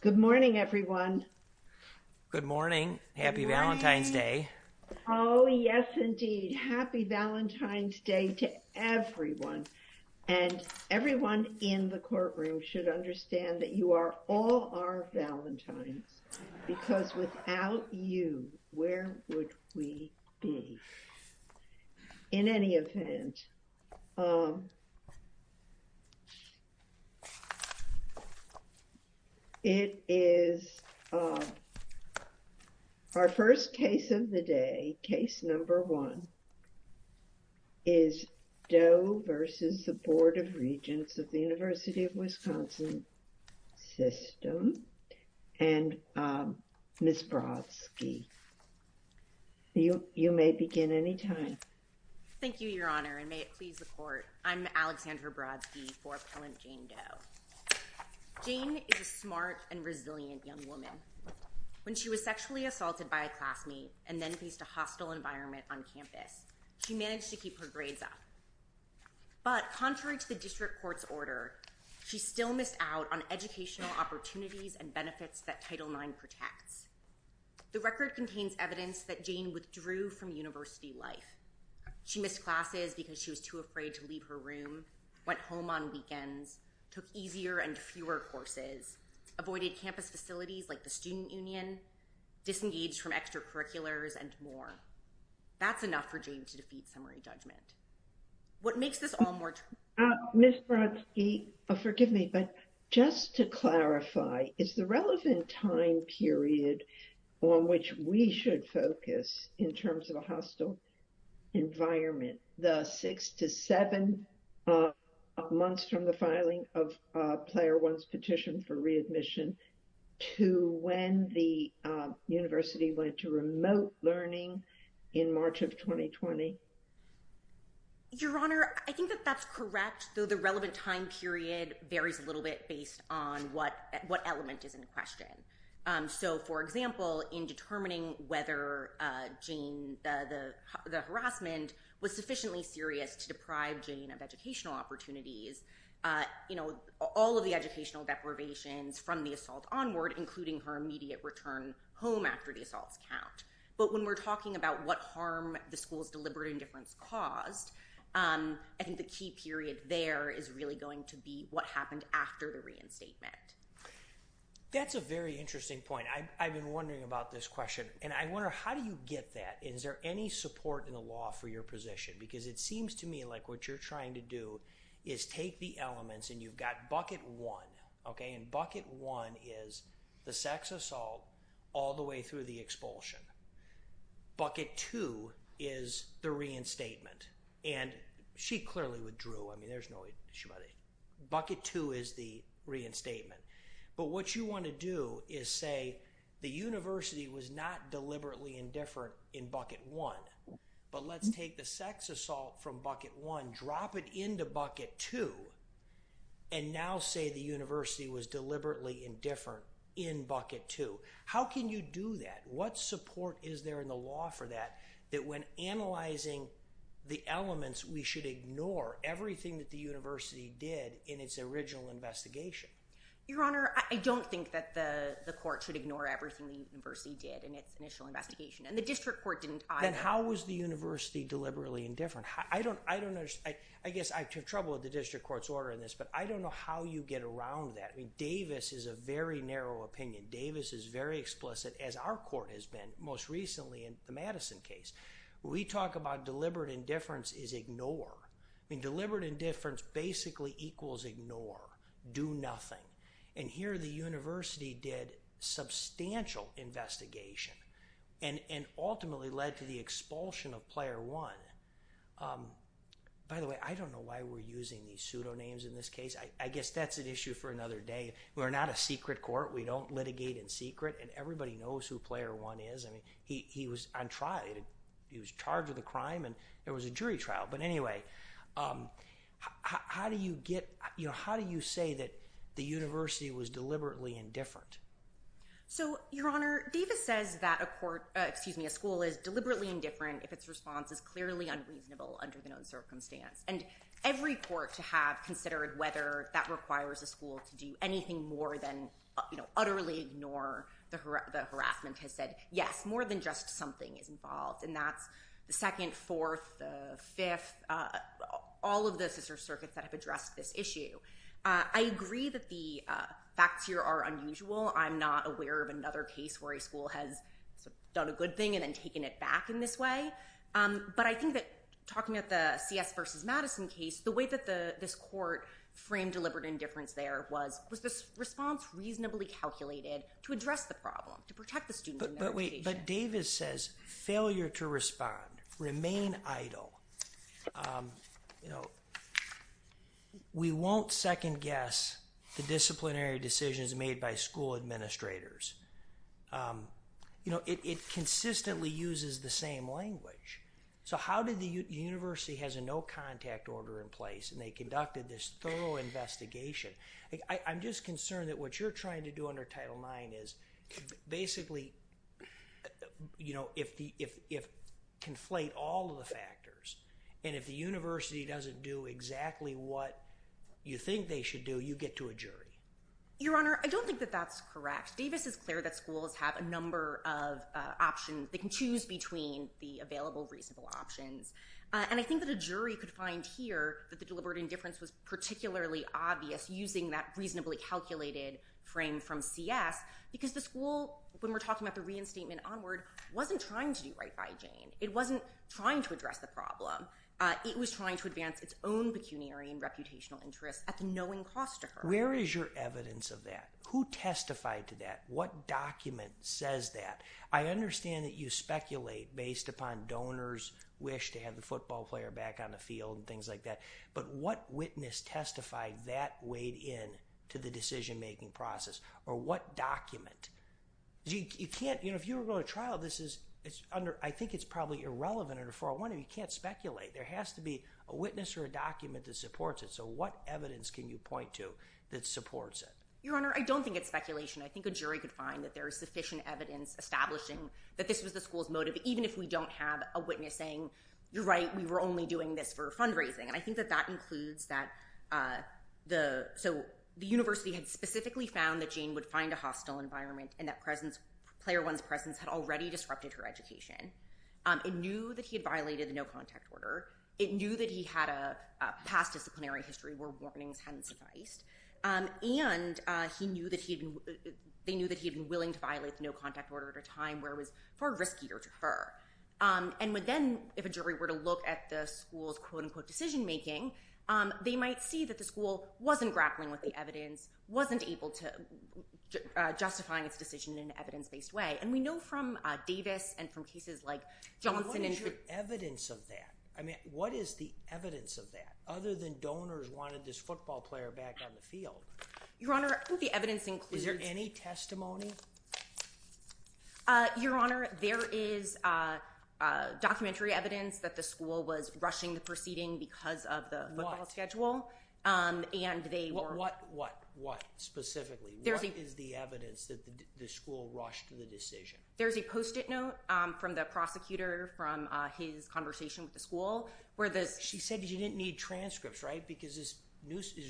Good morning, everyone. Good morning. Happy Valentine's Day. Oh, yes, indeed. Happy Valentine's Day to everyone. And everyone in the courtroom should understand that you are all our Valentines, because without you, where would we be? In any event, it is our first case of the day. Case number one is Doe v. Board of Regents of the University of Wisconsin System. And Ms. Brodsky, you may begin anytime. Thank you, Your Honor, and may it please the court. I'm Alexandra Brodsky for Appellant Jane Doe. Jane is a smart and resilient young woman. When she was sexually assaulted by a classmate and then faced a hostile environment on campus, she managed to keep her grades up. But contrary to the district court's order, she still missed out on educational opportunities and benefits that Title IX protects. The record contains evidence that Jane withdrew from university life. She missed classes because she was too afraid to leave her room, went home on weekends, took easier and fewer courses, avoided campus facilities like the Student Union, disengaged from extracurriculars, and more. That's enough for Jane to defeat summary judgment. What makes this all more... Ms. Brodsky, forgive me, but just to clarify, is the relevant time period on which we should focus in terms of a hostile environment the six to seven months from the filing of Player One's petition for readmission to when the university went to remote learning in March of 2020? Your Honor, I think that that's correct, though the relevant time period varies a little bit based on what element is in question. So for example, in determining whether the harassment was sufficiently serious to deprive Jane of educational opportunities, all of the educational deprivations from the assault onward, including her immediate return home after the assaults count. But when we're talking about what harm the school's deliberate indifference caused, I think the key period there is really going to be what happened after the reinstatement. That's a very interesting point. I've been wondering about this question, and I wonder how do you get that? Is there any support in the law for your position? Because it seems to me like what you're trying to do is take the elements, and you've got Bucket One, okay, and Bucket One is the sex assault all the way through the expulsion. Bucket Two is the reinstatement, and she clearly withdrew. Bucket Two is the reinstatement. But what you want to do is say the university was not deliberately indifferent in Bucket One, but let's take the sex assault from Bucket One, drop it into Bucket Two, and now say the university was deliberately indifferent in Bucket Two. How can you do that? What support is there in the law for that, that when analyzing the elements, we should ignore everything that the university did in its original investigation? Your Honor, I don't think that the court should ignore everything the university did in its initial investigation, and the district court didn't either. Then how was the university deliberately indifferent? I don't understand. I guess I have trouble with the district court's order in this, but I don't know how you get around that. Davis is a very narrow opinion. Davis is very explicit, as our court has been most recently in the Madison case. We talk about deliberate indifference is ignore. Deliberate indifference basically equals ignore, do nothing. Here the university did substantial investigation and ultimately led to the expulsion of Player One. By the way, I don't know why we're using these pseudonyms in this case. I guess that's an issue for another day. We're not a secret court. We don't litigate in secret, and everybody knows who Player One is. He was on trial. He was charged with a crime, and there was a jury trial. How do you say that the university was deliberately indifferent? Your Honor, Davis says that a school is deliberately indifferent if its response is clearly unreasonable under the known circumstance. Every court to have considered whether that has said yes, more than just something is involved, and that's the second, fourth, the fifth, all of the sister circuits that have addressed this issue. I agree that the facts here are unusual. I'm not aware of another case where a school has done a good thing and then taken it back in this way, but I think that talking about the C.S. versus Madison case, the way that this court framed deliberate indifference there was this response reasonably calculated to address the problem, to protect the student. But Davis says failure to respond, remain idle. We won't second-guess the disciplinary decisions made by school administrators. It consistently uses the same language. So how did the university have a no-contact order in place, and they conducted this thorough investigation? I'm just concerned that what you're trying to do under Title IX is basically conflate all of the factors, and if the university doesn't do exactly what you think they should do, you get to a jury. Your Honor, I don't think that that's correct. Davis is clear that schools have a number of options. They can choose between the available reasonable options, and I think that a jury could find here that the deliberate indifference was particularly obvious using that reasonably calculated frame from C.S. because the school, when we're talking about the reinstatement onward, wasn't trying to do right by Jane. It wasn't trying to address the problem. It was trying to advance its own pecuniary and reputational interests at the knowing cost to her. Where is your evidence of that? Who testified to that? What document says that? I understand that you speculate based upon donors' wish to have the football player back on the field and things like that, but what witness testified that weighed in to the decision-making process, or what document? You can't, you know, if you were going to trial, this is under, I think it's probably irrelevant under 401. You can't speculate. There has to be a witness or a document that supports it, so what evidence can you point to that supports it? Your Honor, I don't think it's speculation. I think a jury could find that there is sufficient evidence establishing that this was the school's motive, even if we don't have a witness saying, you're right, we were only doing this for fundraising. And I think that that includes that, so the university had specifically found that Jane would find a hostile environment and that player one's presence had already disrupted her education. It knew that he had violated the no-contact order. It knew that he had a past disciplinary history where warnings hadn't sufficed. And they knew that he had been willing to violate the no-contact order at a time where it was far riskier to her. And then if a jury were to look at the school's quote-unquote decision-making, they might see that the school wasn't grappling with the evidence, wasn't able to justify its decision in an evidence-based way. And we know from Davis and from cases like Johnson and... What is your evidence of that? I mean, what is the evidence of that, other than donors wanted this football player back on the field? Your Honor, I think the evidence includes... Is there any testimony? Your Honor, there is documentary evidence that the school was rushing the proceeding because of the football schedule. What, what, what specifically? What is the evidence that the school rushed the decision? There's a post-it note from the prosecutor from his conversation with the school where the... She said that you didn't need transcripts, right? Because his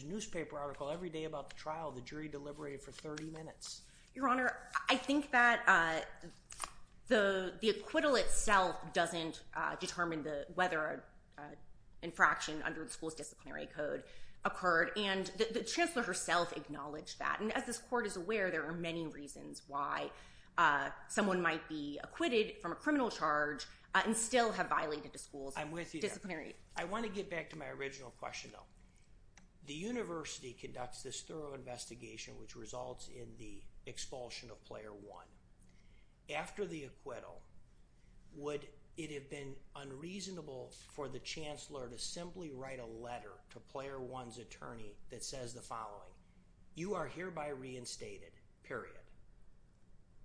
newspaper article every day about the trial, the jury deliberated for 30 minutes. Your Honor, I think that the acquittal itself doesn't determine whether an infraction under the school's disciplinary code occurred. And the Chancellor herself acknowledged that. And as this court is aware, there are many reasons why someone might be acquitted from a criminal charge and still have violated the school's disciplinary... I'm with you there. I want to get back to my The university conducts this thorough investigation, which results in the expulsion of Player One. After the acquittal, would it have been unreasonable for the Chancellor to simply write a letter to Player One's attorney that says the following, you are hereby reinstated, period.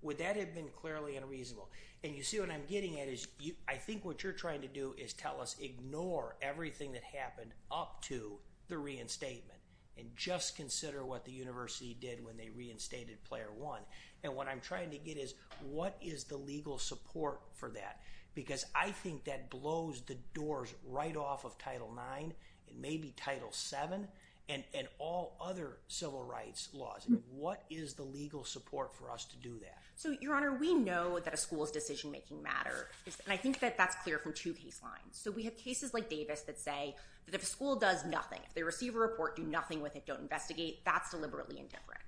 Would that have been clearly unreasonable? And you see what I'm getting at is you, I think what you're trying to do is tell us, ignore everything that happened up to the reinstatement and just consider what the university did when they reinstated Player One. And what I'm trying to get is what is the legal support for that? Because I think that blows the doors right off of Title Nine, maybe Title Seven and all other civil rights laws. What is the legal support for us to do that? So, Your Honor, we know that a school's decision-making matter, and I think that that's clear from two case lines. So we have cases like Davis that say that if a school does nothing, if they receive a report, do nothing with it, don't investigate, that's deliberately indifferent.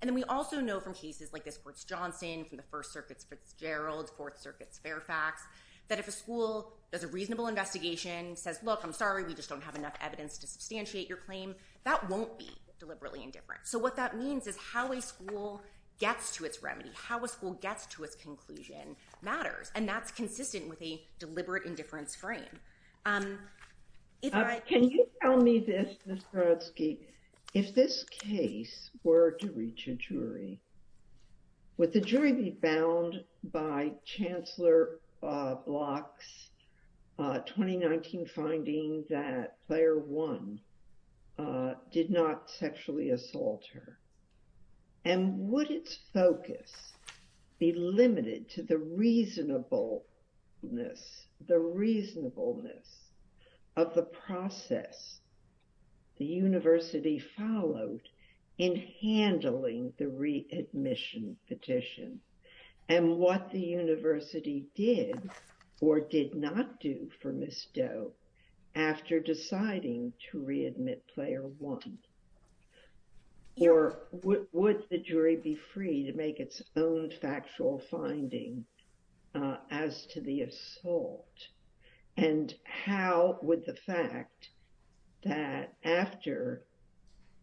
And then we also know from cases like this, Fort Johnson, from the First Circuit's Fitzgerald, Fourth Circuit's Fairfax, that if a school does a reasonable investigation, says, look, I'm sorry, we just don't have enough evidence to substantiate your claim, that won't be deliberately indifferent. So what that means is how a school gets to its remedy, how a school gets to its conclusion matters. And that's consistent with a deliberate indifference frame. Can you tell me this, Ms. Brodsky, if this case were to reach a jury, would the jury be bound by Chancellor Block's 2019 finding that Player One did not sexually assault her? And would its focus be limited to the reasonableness of the process the university followed in handling the readmission petition? And what the university did or did not do for Ms. Doe after deciding to readmit Player One? Or would the jury be free to make its own factual finding as to the assault? And how would the fact that after,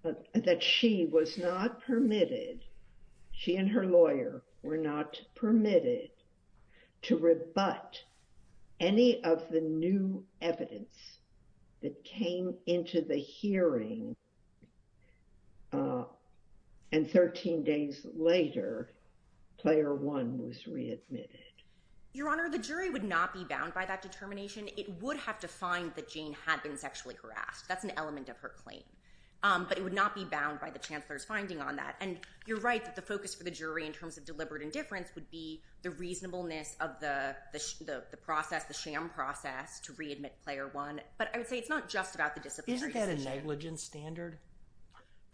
that she was not permitted, she and her lawyer were not permitted, to rebut any of the new evidence that came into the hearing and 13 days later, Player One was readmitted? Your Honor, the jury would not be bound by that determination. It would have to find that Jane had been sexually harassed. That's an element of her claim. But it would not be bound by the Chancellor's finding on that. And you're right that the focus for the jury in terms of deliberate indifference would be the reasonableness of the process, the sham process to readmit Player One. But I would say it's not just about the disciplinary decision. Isn't that a negligence standard?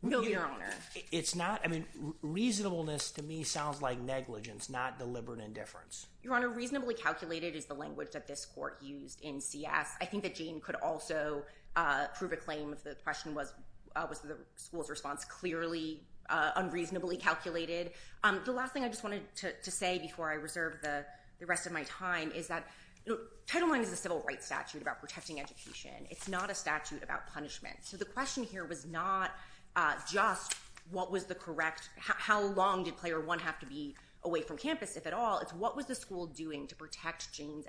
No, Your Honor. It's not? I mean, reasonableness to me sounds like negligence, not deliberate indifference. Your Honor, reasonably calculated is the language that this court used in CS. I think that Jane could also prove a claim if the question was, was the school's response clearly unreasonably calculated. The last thing I just wanted to say before I reserve the rest of my time is that Title IX is a civil rights statute about protecting education. It's not a statute about punishment. So the question here was not just what was the correct, how long did Player One have to be away from campus, if at all, it's what was the school doing to protect Jane's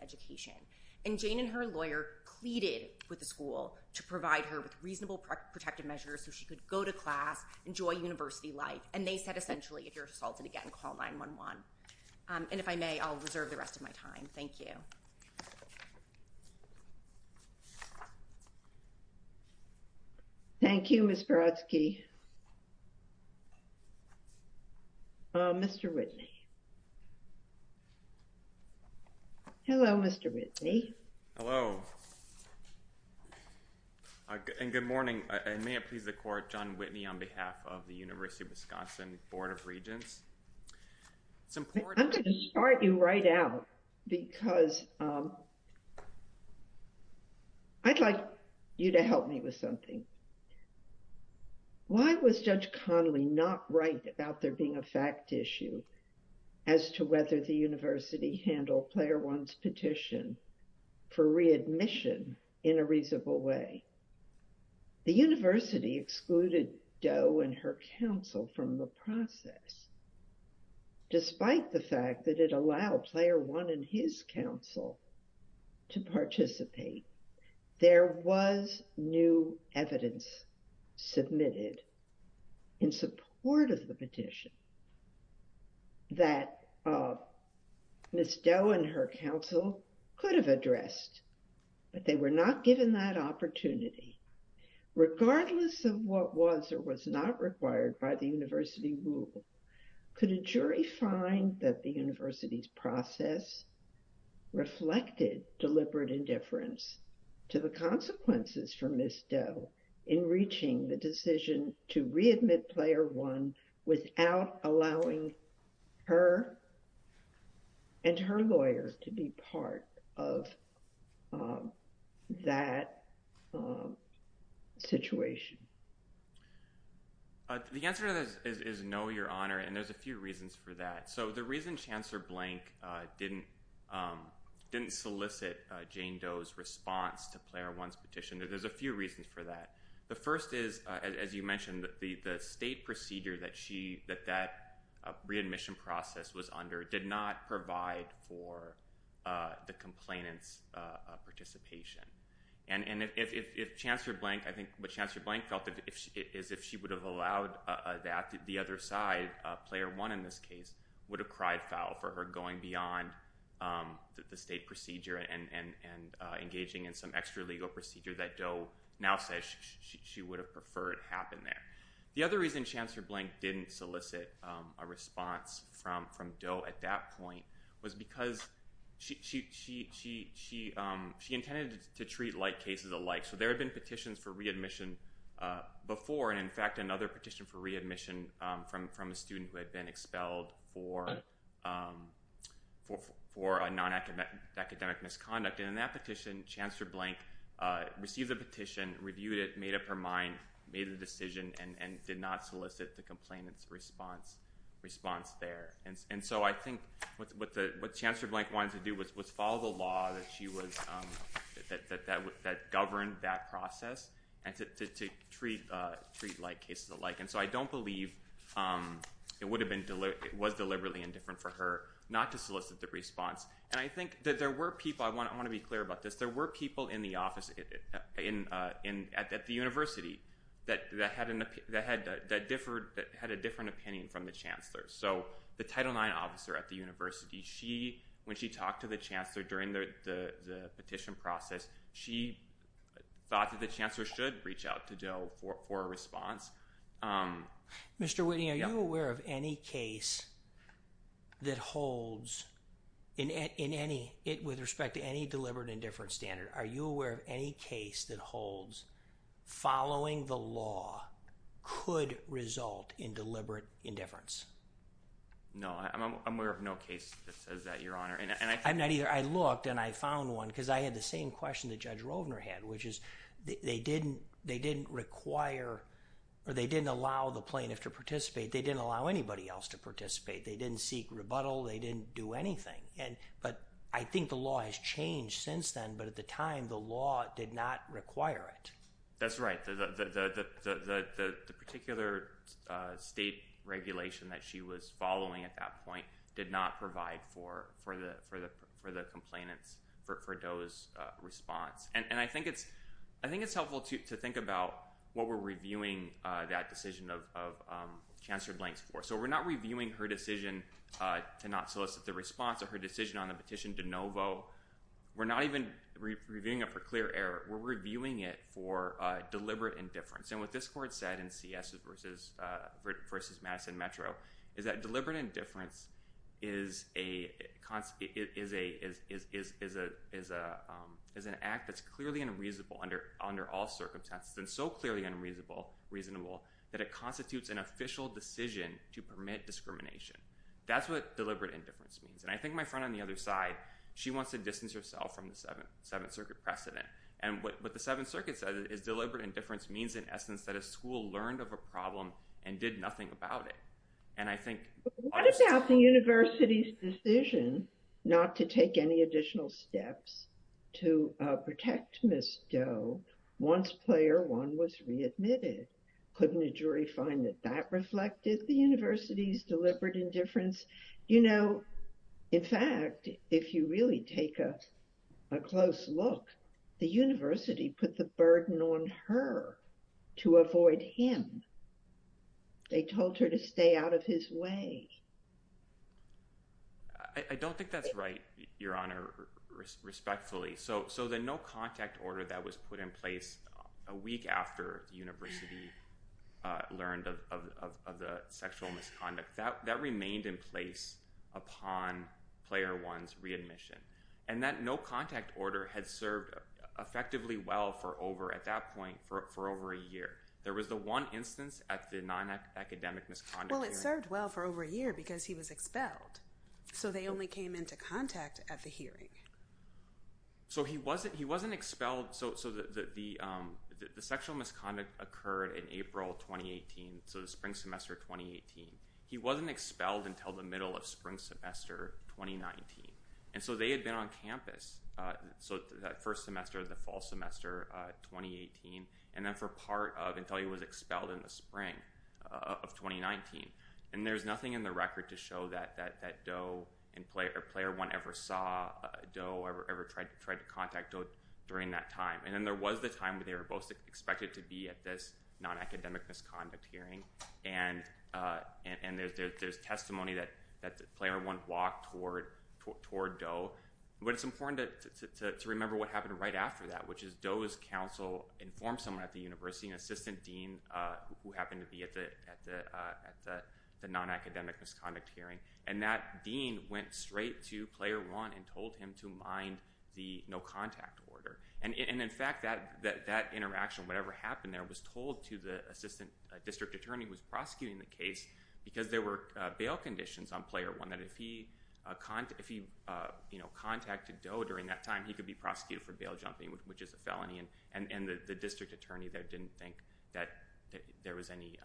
with the school to provide her with reasonable protective measures so she could go to class, enjoy university life. And they said, essentially, if you're assaulted again, call 911. And if I may, I'll reserve the rest of my time. Thank you. Thank you, Ms. Brodsky. Oh, Mr. Whitney. Hello, Mr. Whitney. Hello. And good morning. And may it please the Court, John Whitney on behalf of the University of Wisconsin Board of Regents. It's important. I'm going to start you right out because I'd like you to help me with something. Why was Judge Connolly not right about there being a fact issue as to whether the university handled Player One's petition for readmission in a reasonable way? The university excluded Doe and her counsel from the process. Despite the fact that it allowed Player One and his counsel to participate, there was new evidence submitted in support of the petition that Ms. Doe and her counsel could have addressed, but they were not given that opportunity. Regardless of what was or was not required by the university rule, could a jury find that the university's process reflected deliberate indifference to the consequences for Ms. Doe in reaching the decision to readmit Player One without allowing her and her lawyer to be part of that situation? The answer to this is no, Your Honor, and there's a few reasons for that. So the reason Chancellor Blank didn't solicit Jane Doe's response to Player One's petition, there's a reason for that. The first is, as you mentioned, the state procedure that that readmission process was under did not provide for the complainant's participation. And if Chancellor Blank, I think what Chancellor Blank felt is if she would have allowed that to the other side, Player One in this case would have cried foul for her going beyond the state procedure and engaging in some extralegal procedure that Doe now says she would have preferred happened there. The other reason Chancellor Blank didn't solicit a response from Doe at that point was because she intended to treat like cases alike. So there had been petitions for readmission before, and in fact another petition for readmission from a student who had been expelled for a non-academic misconduct. And in that petition, Chancellor Blank received the petition, reviewed it, made up her mind, made a decision, and did not solicit the complainant's response there. And so I think what Chancellor Blank wanted to do was follow the law that she was, that governed that process, and to treat like cases alike. And so I don't believe it would have been, it was deliberately indifferent for her not to solicit the response. And I think that there were people, I want to be clear about this, there were people in the office at the university that had a different opinion from the Chancellor. So the Title IX officer at the university, when she talked to the Chancellor during the petition process, she thought that Chancellor should reach out to Doe for a response. Mr. Whitting, are you aware of any case that holds in any, with respect to any deliberate indifference standard, are you aware of any case that holds following the law could result in deliberate indifference? No, I'm aware of no case that says that, Your Honor. I'm not either. I looked and I found one because I had the same question that Judge Rovner had, which is they didn't require, or they didn't allow the plaintiff to participate, they didn't allow anybody else to participate, they didn't seek rebuttal, they didn't do anything. But I think the law has changed since then, but at the time the law did not require it. That's right. The particular state regulation that she was following at that point did not provide for the complainants, for Doe's response. And I think it's helpful to think about what we're reviewing that decision of Chancellor Blank's for. So we're not reviewing her decision to not solicit the response or her decision on the petition de novo. We're not even reviewing it for clear error. We're reviewing it for deliberate indifference. And what this court said in CS v. Madison Metro is that deliberate indifference is an act that's clearly unreasonable under all circumstances and so clearly unreasonable that it constitutes an official decision to permit discrimination. That's what deliberate indifference means. And I think my friend on the other side, she wants to distance herself from the Seventh Circuit precedent. And what the Seventh Circuit said is deliberate indifference means in essence that a school learned of a problem and did nothing about it. And I think... What about the university's decision not to take any additional steps to protect Ms. Doe once Player 1 was readmitted? Couldn't a jury find that that reflected the university's deliberate indifference? You know, in fact, if you really take a close look, the university put the burden on her to avoid him. They told her to stay out of his way. I don't think that's right, Your Honor, respectfully. So the no contact order that was put in place a week after the university learned of the sexual misconduct, that remained in place upon Player 1's readmission. And that no contact order had served effectively well for over, at that point, for over a year. There was the one instance at the non-academic misconduct... Well, it served well for over a year because he was expelled. So they only came into contact at the hearing. So he wasn't expelled... So the sexual misconduct occurred in April 2018, so the spring semester 2018. He wasn't expelled until the middle of spring semester 2019. And so they had been on campus, so that first semester of the fall semester 2018, and then for part of until he was expelled in the spring of 2019. And there's nothing in the record to show that Doe and Player 1 ever saw Doe, ever tried to contact Doe during that time. And then there was the time where they were both expected to be at this non-academic misconduct hearing. And there's testimony that Player 1 walked toward Doe. But it's important to remember what happened right after that, which is Doe's counsel informed someone at the university, an assistant dean who happened to be at the non-academic misconduct hearing. And that dean went straight to Player 1 and told him to mind the no contact order. And in fact, that interaction, whatever happened there, was told to the assistant district attorney who was prosecuting the case because there were bail conditions on Player 1 that if he contacted Doe during that time, he could be prosecuted for bail jumping, which is a felony. And the district attorney there didn't that there was any,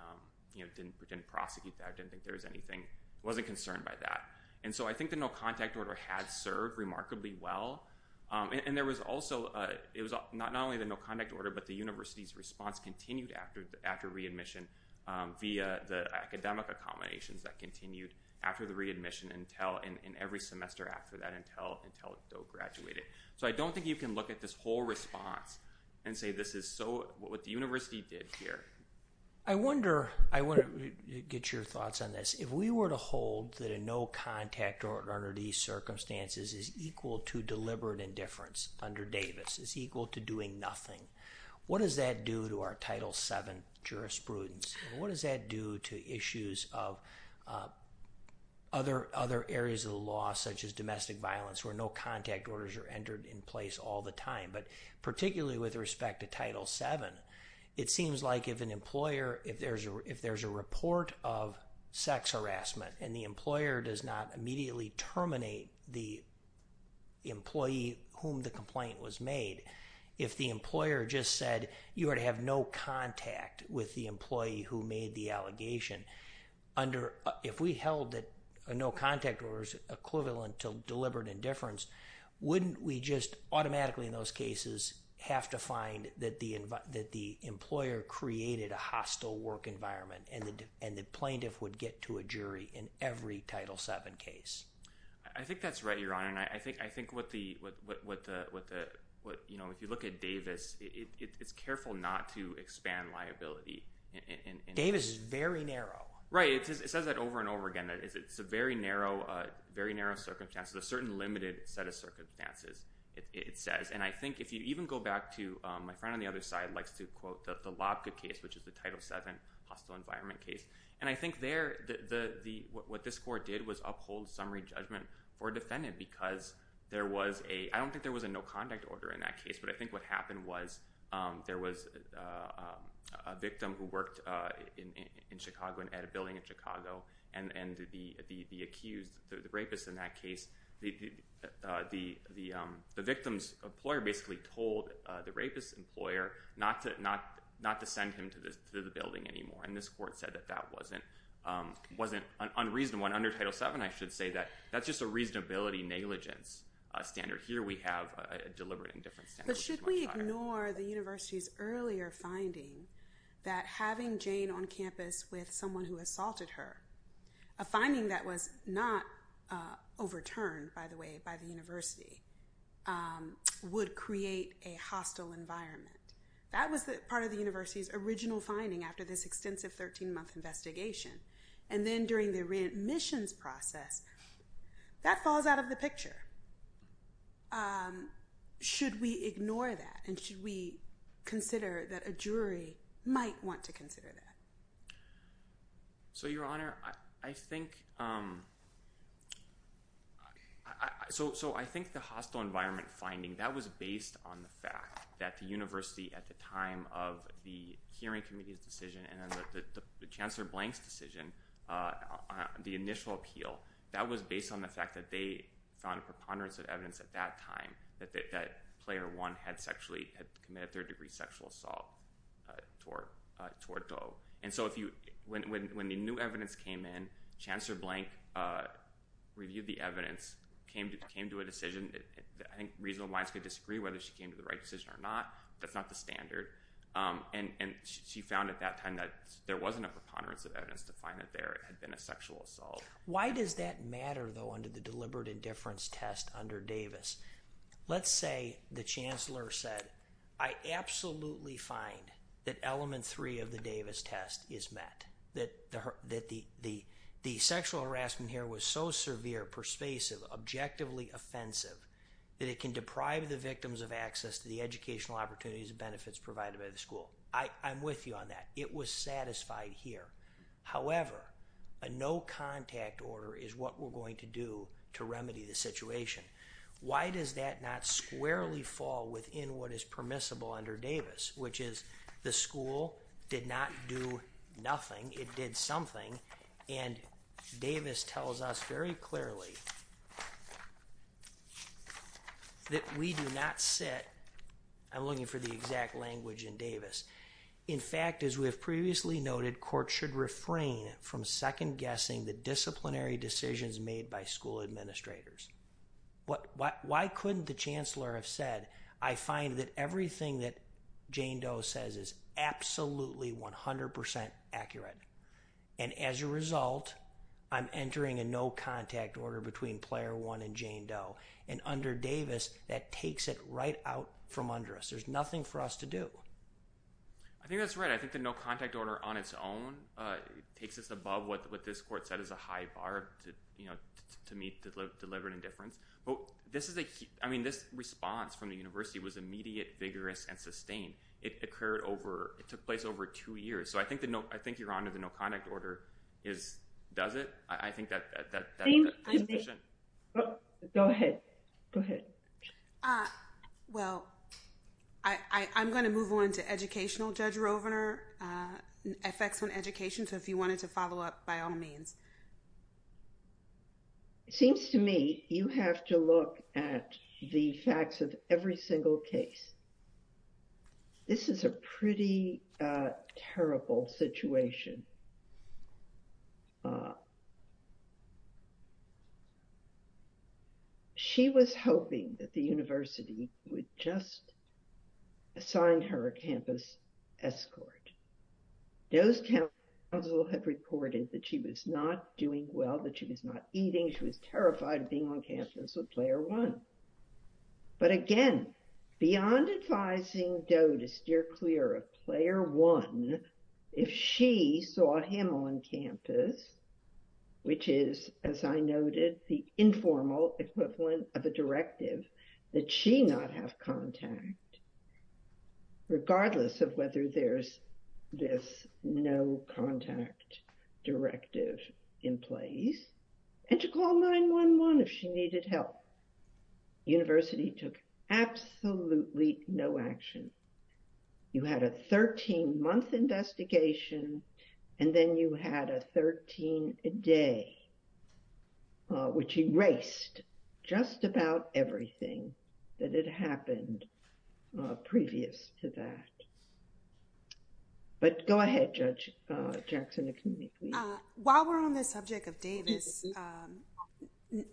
didn't prosecute that, didn't think there was anything, wasn't concerned by that. And so I think the no contact order had served remarkably well. And there was also, it was not only the no contact order, but the university's response continued after readmission via the academic accommodations that continued after the readmission and every semester after that until Doe graduated. So I don't think you can look at this whole response and say this is so what the university did here. I wonder, I want to get your thoughts on this. If we were to hold that a no contact order under these circumstances is equal to deliberate indifference under Davis, is equal to doing nothing, what does that do to our Title VII jurisprudence? And what does that do to issues of other areas of the law, such as domestic violence, where no contact orders are entered in place all the time. But particularly with respect to Title VII, it seems like if an employer, if there's a, if there's a report of sex harassment and the employer does not immediately terminate the employee whom the complaint was made, if the employer just said you are to have no contact with the employee who made the allegation under, if we held that a no contact order is equivalent to deliberate indifference, wouldn't we just automatically in those cases have to find that the, that the employer created a hostile work environment and the plaintiff would get to a jury in every Title VII case? I think that's right, Your Honor. And I think, I think what the, what the, what the, what, you know, if you look at Davis, it's careful not to expand liability. Davis is very narrow. Right, it says that over and over again, that it's a very narrow, very narrow circumstance. There's a certain limited set of circumstances, it says. And I think if you even go back to, my friend on the other side likes to quote the Lobka case, which is the Title VII hostile environment case. And I think there, the, the, the, what this court did was uphold summary judgment for a defendant because there was a, I think what happened was there was a victim who worked in, in Chicago and at a building in Chicago and, and the, the, the accused, the rapist in that case, the, the, the, the victim's employer basically told the rapist's employer not to, not, not to send him to the, to the building anymore. And this court said that that wasn't, wasn't unreasonable. And under Title VII, I should say that that's just a reasonability negligence standard. Here, we have a deliberate indifference standard. But should we ignore the university's earlier finding that having Jane on campus with someone who assaulted her, a finding that was not overturned, by the way, by the university, would create a hostile environment. That was the part of the university's original finding after this extensive 13-month investigation. And then during the re-admissions process, that falls out of the picture. Should we ignore that? And should we consider that a jury might want to consider that? So, Your Honor, I think, so, so I think the hostile environment finding, that was based on the fact that the university at the time of the hearing committee's decision and then the, the, the Chancellor Blank's decision, the initial appeal, that was based on the fact that they found a preponderance of evidence at that time, that, that, that player one had sexually, had committed third-degree sexual assault toward, toward Doe. And so if you, when, when, when the new evidence came in, Chancellor Blank reviewed the evidence, came to, came to a decision, I think reasonable minds could disagree whether she came to the right decision or not. That's not the standard. And, and she found at that time that there wasn't a preponderance of evidence to find that there had been a sexual assault. Why does that matter, though, under the deliberate indifference test under Davis? Let's say the Chancellor said, I absolutely find that element three of the Davis test is met, that the, that the, the, the sexual harassment here was so severe, persuasive, objectively offensive, that it can deprive the victims of access to the educational opportunities and benefits provided by the school. I, I'm with you on that. It was satisfied here. However, a no contact order is what we're going to do to remedy the situation. Why does that not squarely fall within what is permissible under Davis, which is the school did not do nothing. It did something and Davis tells us very clearly that we do not sit, I'm looking for the exact language in Davis. In fact, as we have previously noted, court should refrain from second guessing the disciplinary decisions made by school administrators. What, why couldn't the Chancellor have said, I find that everything that Jane Doe says is absolutely 100% accurate. And as a result, I'm entering a no contact order between player one and Jane Doe and under Davis, that takes it right out from under us. There's nothing for us to do. I think that's right. I think the no contact order on its own takes us above what, what this court said is a high bar to, you know, to meet deliberate indifference. Well, this is a, I mean, this response from the university was immediate, vigorous, and sustained. It occurred over, it took place over two years. So I think the no, I think you're on to the no contact order is, does it? I think that, that, that. Go ahead. Go ahead. Well, I, I, I'm going to move on to educational judge Rovner, effects on education. So if you wanted to follow up by all means. It seems to me, you have to look at the facts of every single case. This is a pretty terrible situation. She was hoping that the university would just assign her a campus escort. Doe's council had reported that she was not doing well, that she was not eating. She was terrified of being on campus with player one. But again, beyond advising Doe to steer clear of player one, if she saw him on campus, which is, as I noted, the informal equivalent of a directive that she not have contact, regardless of whether there's this no contact directive in place and to call 9-1-1 if she needed help. University took absolutely no action. You had a 13 month investigation, and then you had a 13 day, which erased just about everything that had happened previous to that. But go ahead, Judge Jackson. While we're on the subject of Davis,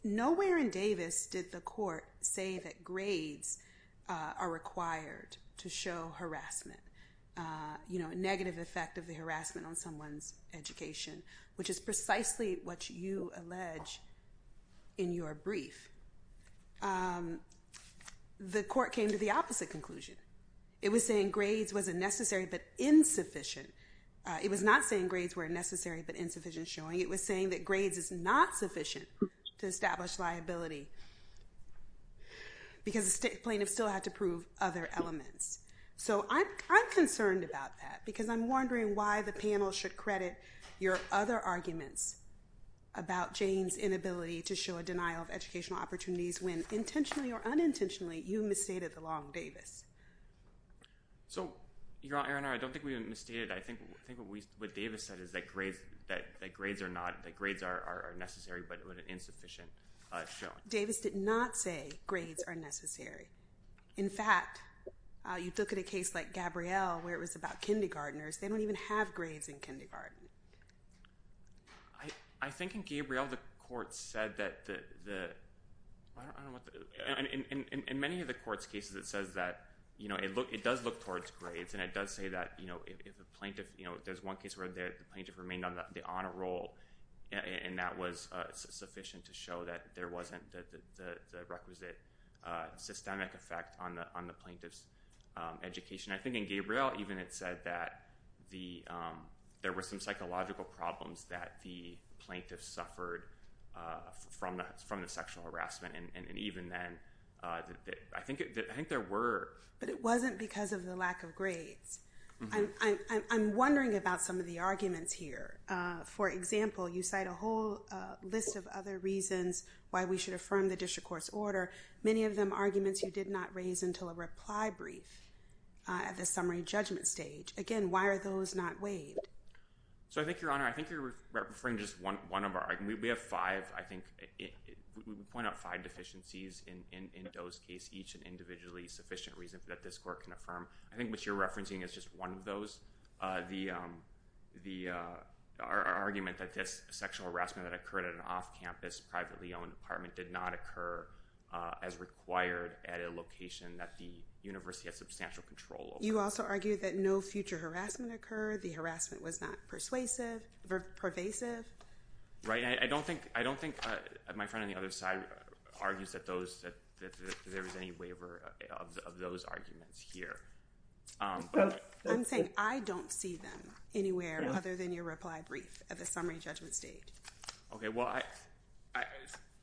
nowhere in Davis did the court say that grades are required to show harassment, you know, negative effect of the harassment on someone's you allege in your brief. The court came to the opposite conclusion. It was saying grades was a necessary but insufficient. It was not saying grades were necessary but insufficient showing. It was saying that grades is not sufficient to establish liability. Because the plaintiff still had to prove other elements. So I'm concerned about that, because I'm wondering why the panel should credit your other arguments about Jane's inability to show a denial of educational opportunities when intentionally or unintentionally you misstated the long Davis. So, Your Honor, I don't think we misstated. I think what Davis said is that grades are necessary but insufficient showing. Davis did not say grades are necessary. In fact, you look at a case like Gabrielle where it was about kindergarteners. They don't even have grades in kindergarten. I think in Gabrielle the court said that the, I don't know what the, in many of the court's cases it says that, you know, it does look towards grades and it does say that, you know, if a plaintiff, you know, there's one case where the plaintiff remained on the honor roll and that was sufficient to show that there wasn't the requisite systemic effect on the plaintiff's education. I think in Gabrielle even it said that there were some psychological problems that the plaintiff suffered from the sexual harassment. And even then, I think there were. But it wasn't because of the lack of grades. I'm wondering about some of the arguments here. For example, you cite a whole list of other reasons why we should affirm the district court's order, many of them arguments you did not raise until a reply brief. At the summary judgment stage. Again, why are those not waived? So I think, Your Honor, I think you're referring to just one of our arguments. We have five, I think, we point out five deficiencies in Doe's case, each an individually sufficient reason that this court can affirm. I think what you're referencing is just one of those. The, our argument that this sexual harassment that occurred at an off-campus, privately owned apartment did not occur as required at a location that the university has substantial control over. You also argue that no future harassment occurred. The harassment was not persuasive, pervasive. Right. I don't think, I don't think my friend on the other side argues that those, that there was any waiver of those arguments here. I'm saying I don't see them anywhere other than your reply brief at the summary judgment stage. Okay. Well, I,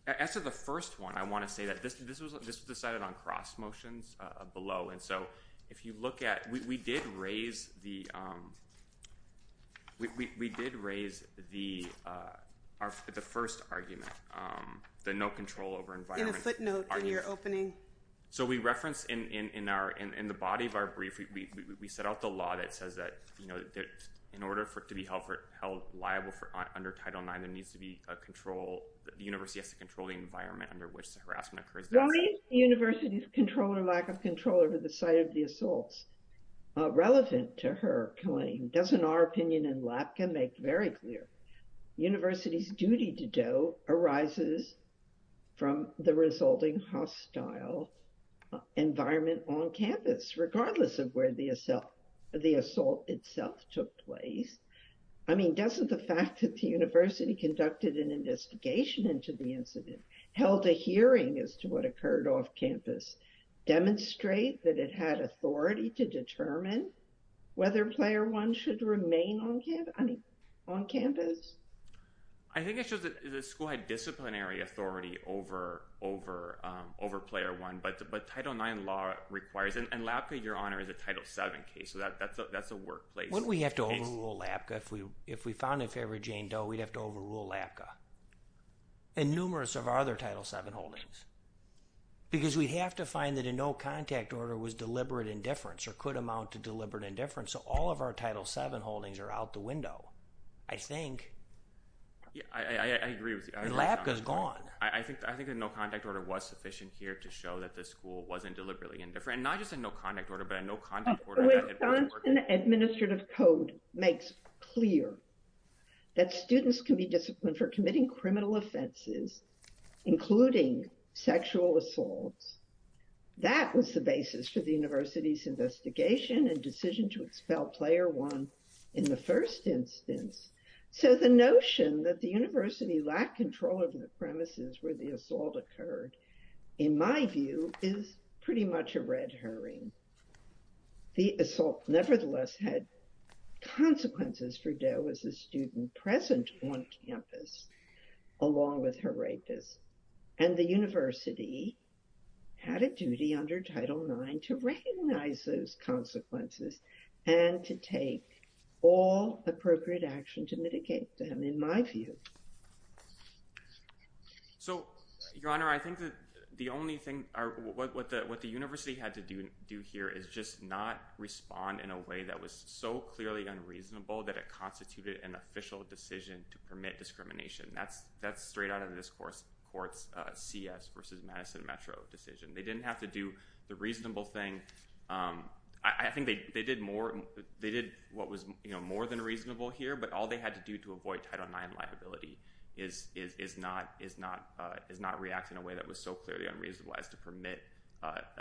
as to the first one, I want to say that this, this was, this was decided on cross motions below. And so if you look at, we did raise the, we did raise the, our, the first argument, the no control over environment. In a footnote in your opening. So we referenced in, in, in our, in, in the body of our brief, we, we, we set out the law that says that, you know, in order for it to be held liable for under Title IX, there needs to be a control, the university has to control the environment under which the harassment occurs. Well, the university's control or lack of control over the site of the assaults, relevant to her claim, doesn't our opinion in LAPCA make very clear. University's duty to do arises from the resulting hostile environment on campus, regardless of where the assault, the assault itself took place. I mean, doesn't the fact that the university conducted an investigation into the incident, held a hearing as to what occurred off campus, demonstrate that it had authority to determine whether Player 1 should remain on campus, I mean, on campus. I think it shows that the school had disciplinary authority over, over, over Player 1, but, but Title IX law requires, and LAPCA, Your Honor, is a Title VII case. So that, that's a, that's a workplace case. Wouldn't we have to overrule LAPCA if we, if we found a favorite Jane Doe, we'd have to overrule LAPCA and numerous of our other Title VII holdings. Because we'd have to find that a no contact order was deliberate indifference or could amount to deliberate indifference. So all of our Title VII holdings are out the window, I think. Yeah, I, I, I agree with you. LAPCA's gone. I think, I think the no contact order was sufficient here to show that the school wasn't deliberately indifferent. Not just a no contact order, but a no contact order. The Wisconsin Administrative Code makes clear that students can be disciplined for committing criminal offenses, including sexual assaults. That was the basis for the university's investigation and decision to expel Player 1 in the first instance. So the notion that the university lacked control of the premises where the assault occurred, in my view, is pretty much a red herring. The assault nevertheless had consequences for Doe as a student present on campus, along with her rapist. And the university had a duty under Title IX to recognize those consequences and to take all appropriate action to mitigate them, in my view. So, Your Honor, I think that the only thing, what the university had to do here is just not respond in a way that was so clearly unreasonable that it constituted an official decision to permit discrimination. That's, that's straight out of this court's CS versus Madison Metro decision. They didn't have to do the reasonable thing. And I think they did more, they did what was, you know, more than reasonable here, but all they had to do to avoid Title IX liability is not react in a way that was so clearly unreasonable as to permit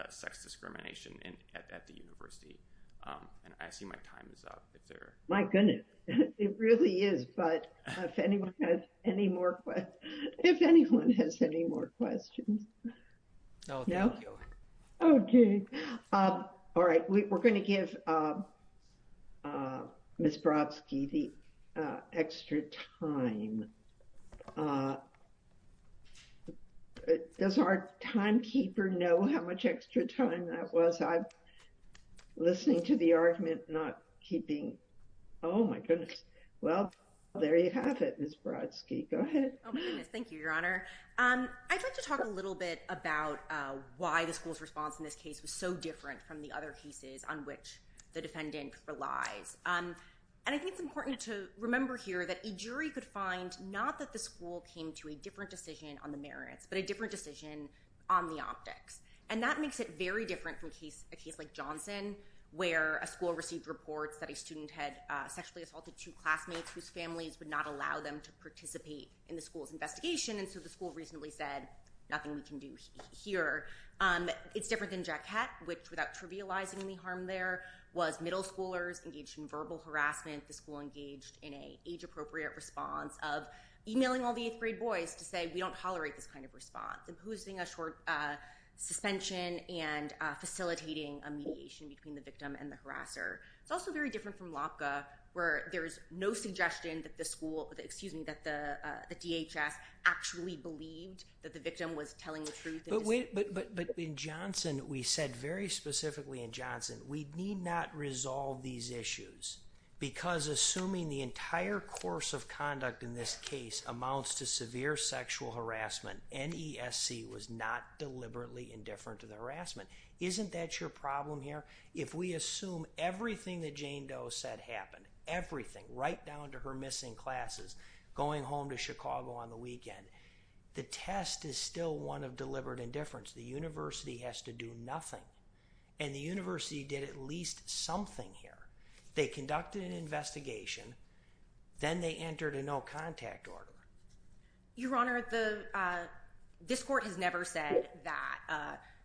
sex discrimination at the university. And I see my time is up. My goodness, it really is. But if anyone has any more, if anyone has any more questions. No. Okay. All right. We're going to give Miss Brodsky the extra time. Does our timekeeper know how much extra time that was? I'm listening to the argument, not keeping. Oh, my goodness. Well, there you have it, Miss Brodsky. Go ahead. Oh, my goodness. Thank you, Your Honor. I'd like to talk a little bit about why the school's response in this case was so different from the other cases on which the defendant relies. And I think it's important to remember here that a jury could find not that the school came to a different decision on the merits, but a different decision on the optics. And that makes it very different from case, a case like Johnson, where a school received reports that a student had sexually assaulted two classmates whose families would not allow them to participate in the school's investigation. So the school reasonably said, nothing we can do here. It's different than Jack Kett, which without trivializing the harm there, was middle schoolers engaged in verbal harassment. The school engaged in an age-appropriate response of emailing all the eighth grade boys to say, we don't tolerate this kind of response, imposing a short suspension and facilitating a mediation between the victim and the harasser. It's also very different from Lopka, where there is no suggestion that the school, excuse me, believed that the victim was telling the truth. But in Johnson, we said very specifically in Johnson, we need not resolve these issues because assuming the entire course of conduct in this case amounts to severe sexual harassment, NESC was not deliberately indifferent to the harassment. Isn't that your problem here? If we assume everything that Jane Doe said happened, everything, right down to her missing classes, going home to Chicago on the weekend, the test is still one of deliberate indifference. The university has to do nothing, and the university did at least something here. They conducted an investigation, then they entered a no contact order. Your Honor, this court has never said that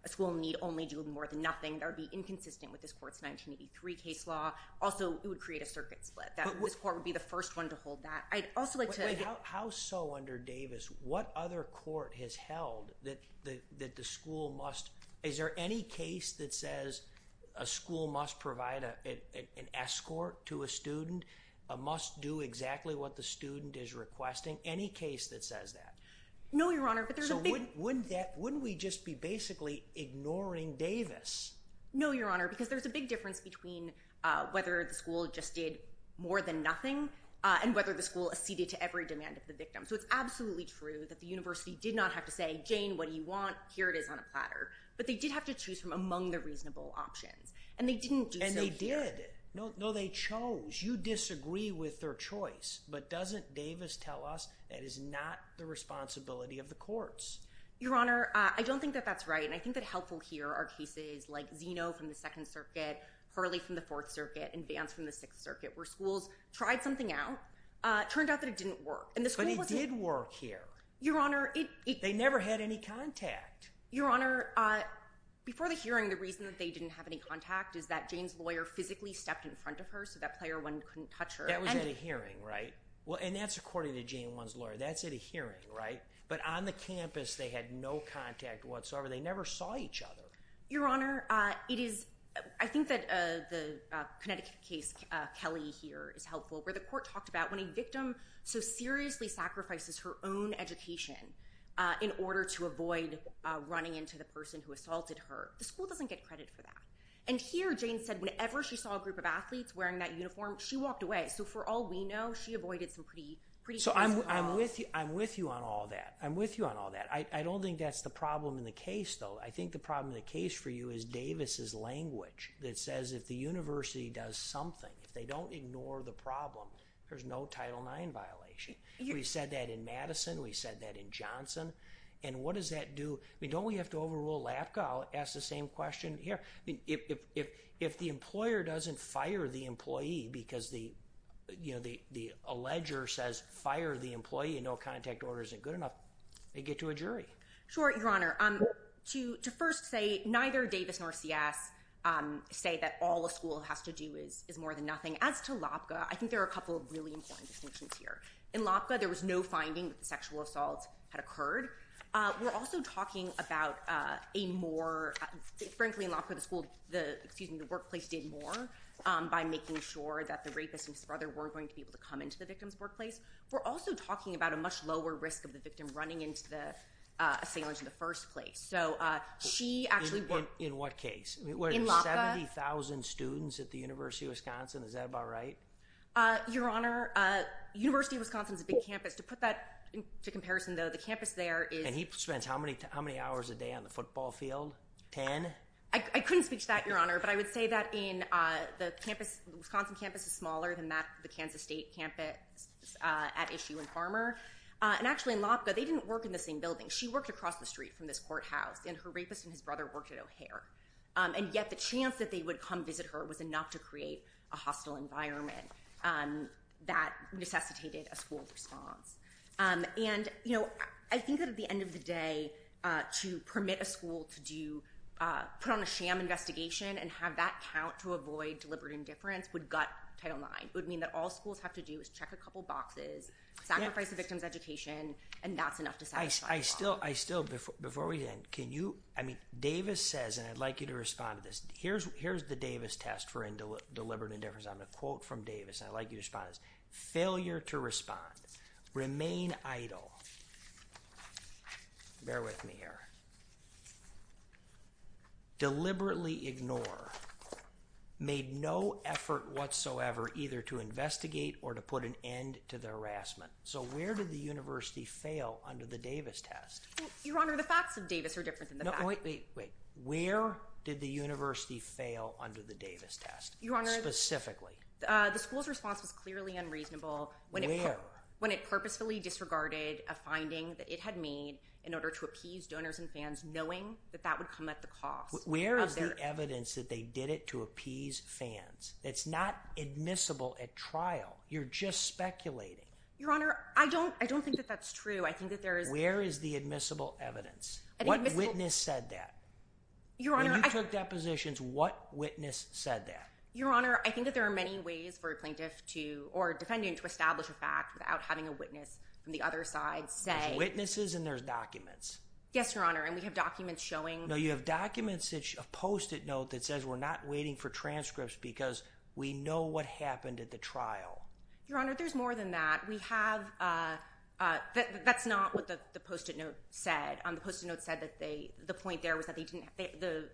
a school need only do more than nothing. That would be inconsistent with this court's 1983 case law. Also, it would create a circuit split. This court would be the first one to hold that. I'd also like to— How so under Davis? What other court has held that the school must—is there any case that says a school must provide an escort to a student, must do exactly what the student is requesting? Any case that says that? No, Your Honor, but there's a big— Wouldn't we just be basically ignoring Davis? No, Your Honor, because there's a big difference between whether the school just did more than nothing and whether the school acceded to every demand of the victim. So it's absolutely true that the university did not have to say, Jane, what do you want? Here it is on a platter. But they did have to choose from among the reasonable options, and they didn't do so here. And they did. No, they chose. You disagree with their choice, but doesn't Davis tell us that is not the responsibility of the courts? Your Honor, I don't think that that's right, and I think that helpful here are cases like Zeno from the Second Circuit, Hurley from the Fourth Circuit, and Vance from the Sixth Circuit, where schools tried something out, turned out that it didn't work. But it did work here. Your Honor, it— They never had any contact. Your Honor, before the hearing, the reason that they didn't have any contact is that Jane's lawyer physically stepped in front of her so that Player One couldn't touch her. That was at a hearing, right? And that's according to Jane, one's lawyer. That's at a hearing, right? But on the campus, they had no contact whatsoever. They never saw each other. Your Honor, it is—I think that the Connecticut case, Kelly here, is helpful, where the court talked about when a victim so seriously sacrifices her own education in order to avoid running into the person who assaulted her. The school doesn't get credit for that. And here, Jane said whenever she saw a group of athletes wearing that uniform, she walked away. So for all we know, she avoided some pretty serious problems. So I'm with you on all that. I'm with you on all that. I don't think that's the problem in the case, though. I think the problem in the case for you is Davis's language that says if the university does something, if they don't ignore the problem, there's no Title IX violation. We said that in Madison. We said that in Johnson. And what does that do—I mean, don't we have to overrule LAPCA? I'll ask the same question here. If the employer doesn't fire the employee because the, you know, the alleger says fire the employee and no contact order isn't good enough, they get to a jury. Sure, Your Honor. To first say neither Davis nor CS say that all a school has to do is more than nothing. As to LAPCA, I think there are a couple of really important distinctions here. In LAPCA, there was no finding that the sexual assault had occurred. We're also talking about a more—frankly, in LAPCA, the school—excuse me, the workplace did more by making sure that the rapist and his brother weren't going to be able to come into the victim's workplace. We're also talking about a much lower risk of the victim running into the assailant in the first place, so she actually— In what case? In LAPCA. Were there 70,000 students at the University of Wisconsin? Is that about right? Your Honor, University of Wisconsin is a big campus. To put that into comparison, though, the campus there is— And he spends how many hours a day on the football field? Ten? I couldn't speak to that, Your Honor, but I would say that in the campus—the Wisconsin campus is smaller than the Kansas State campus at issue in Farmer. And actually, in LAPCA, they didn't work in the same building. She worked across the street from this courthouse, and her rapist and his brother worked at O'Hare, and yet the chance that they would come visit her was enough to create a hostile environment that necessitated a school response. And, you know, I think that at the end of the day, to permit a school to do—put on a sham investigation and have that count to avoid deliberate indifference would gut Title IX. It would mean that all schools have to do is check a couple boxes, sacrifice a victim's education, and that's enough to satisfy the law. I still—before we end, can you—I mean, Davis says—and I'd like you to respond to this—here's the Davis test for deliberate indifference. I'm going to quote from Davis, and I'd like you to respond to this. Failure to respond, remain idle—bear with me here—deliberately ignore, made no effort whatsoever either to investigate or to put an end to the harassment. So where did the university fail under the Davis test? Your Honor, the facts of Davis are different than the facts— No, wait, wait, wait. Where did the university fail under the Davis test specifically? The school's response was clearly unreasonable when it purposefully disregarded a finding that it had made in order to appease donors and fans, knowing that that would come at the cost of their— Where is the evidence that they did it to appease fans? It's not admissible at trial. You're just speculating. Your Honor, I don't think that that's true. I think that there is— Where is the admissible evidence? What witness said that? Your Honor— When you took depositions, what witness said that? Your Honor, I think that there are many ways for a plaintiff to—or a defendant to establish a fact without having a witness from the other side say— There's witnesses and there's documents. Yes, Your Honor, and we have documents showing— No, you have documents, a Post-it note that says, we're not waiting for transcripts because we know what happened at the trial. Your Honor, there's more than that. We have—that's not what the Post-it note said. The Post-it note said that they—the point there was that they didn't—the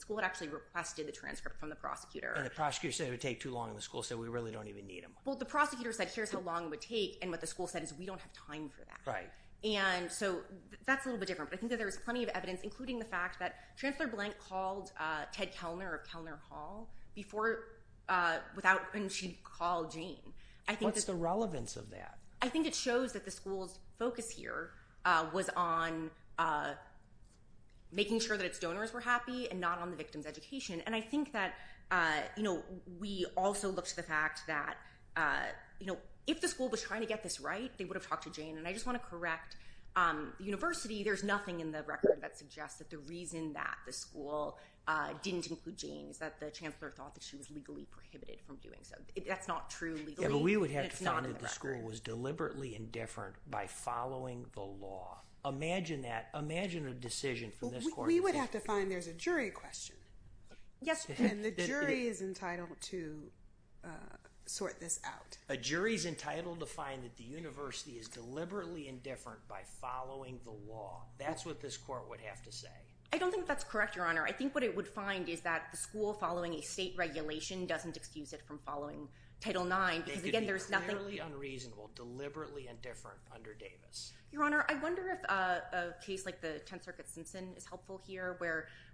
school had actually requested the transcript from the prosecutor. And the prosecutor said it would take too long, and the school said, we really don't even need them. Well, the prosecutor said, here's how long it would take, and what the school said is, we don't have time for that. Right. And so that's a little bit different. But I think that there was plenty of evidence, including the fact that without—and she called Jane. I think that— What's the relevance of that? I think it shows that the school's focus here was on making sure that its donors were happy and not on the victim's education. And I think that, you know, we also looked to the fact that, you know, if the school was trying to get this right, they would have talked to Jane. And I just want to correct the university. There's nothing in the record that suggests that the reason that the school didn't include Jane is that the chancellor thought that she was legally prohibited from doing so. That's not true legally. Yeah, but we would have to find that the school was deliberately indifferent by following the law. Imagine that. Imagine a decision from this court— We would have to find there's a jury question. Yes. And the jury is entitled to sort this out. A jury's entitled to find that the university is deliberately indifferent by following the law. That's what this court would have to say. I don't think that's correct, Your Honor. I think what it would find is that the school following a state regulation doesn't excuse it from following Title IX because, again, there's nothing— They could be clearly unreasonable, deliberately indifferent under Davis. Your Honor, I wonder if a case like the Tenth Circuit Simpson is helpful here,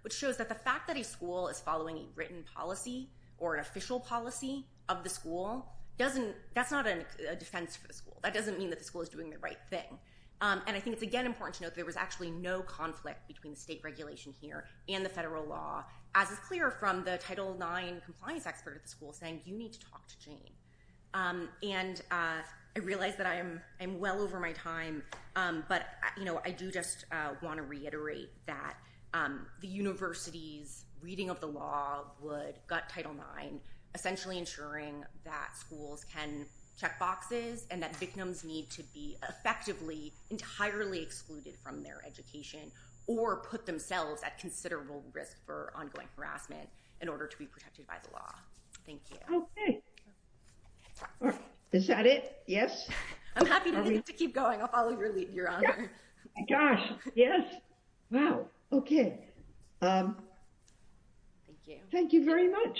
which shows that the fact that a school is following a written policy or an official policy of the school doesn't—that's not a defense for the school. That doesn't mean that the school is doing the right thing. And I think it's, again, important to note that there was actually no conflict between the state regulation here and the federal law, as is clear from the Title IX compliance expert at the school saying, you need to talk to Jane. And I realize that I am well over my time, but I do just want to reiterate that the university's reading of the law would gut Title IX, essentially ensuring that schools can check boxes and that victims need to be effectively entirely excluded from their education or put themselves at considerable risk for ongoing harassment in order to be protected by the law. Thank you. Okay. Is that it? Yes. I'm happy to keep going. I'll follow your lead, Your Honor. Gosh, yes. Wow. Okay. Thank you. Thank you very much.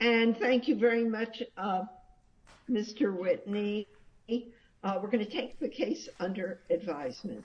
And thank you very much, Mr. Whitney. We're going to take the case under advisement.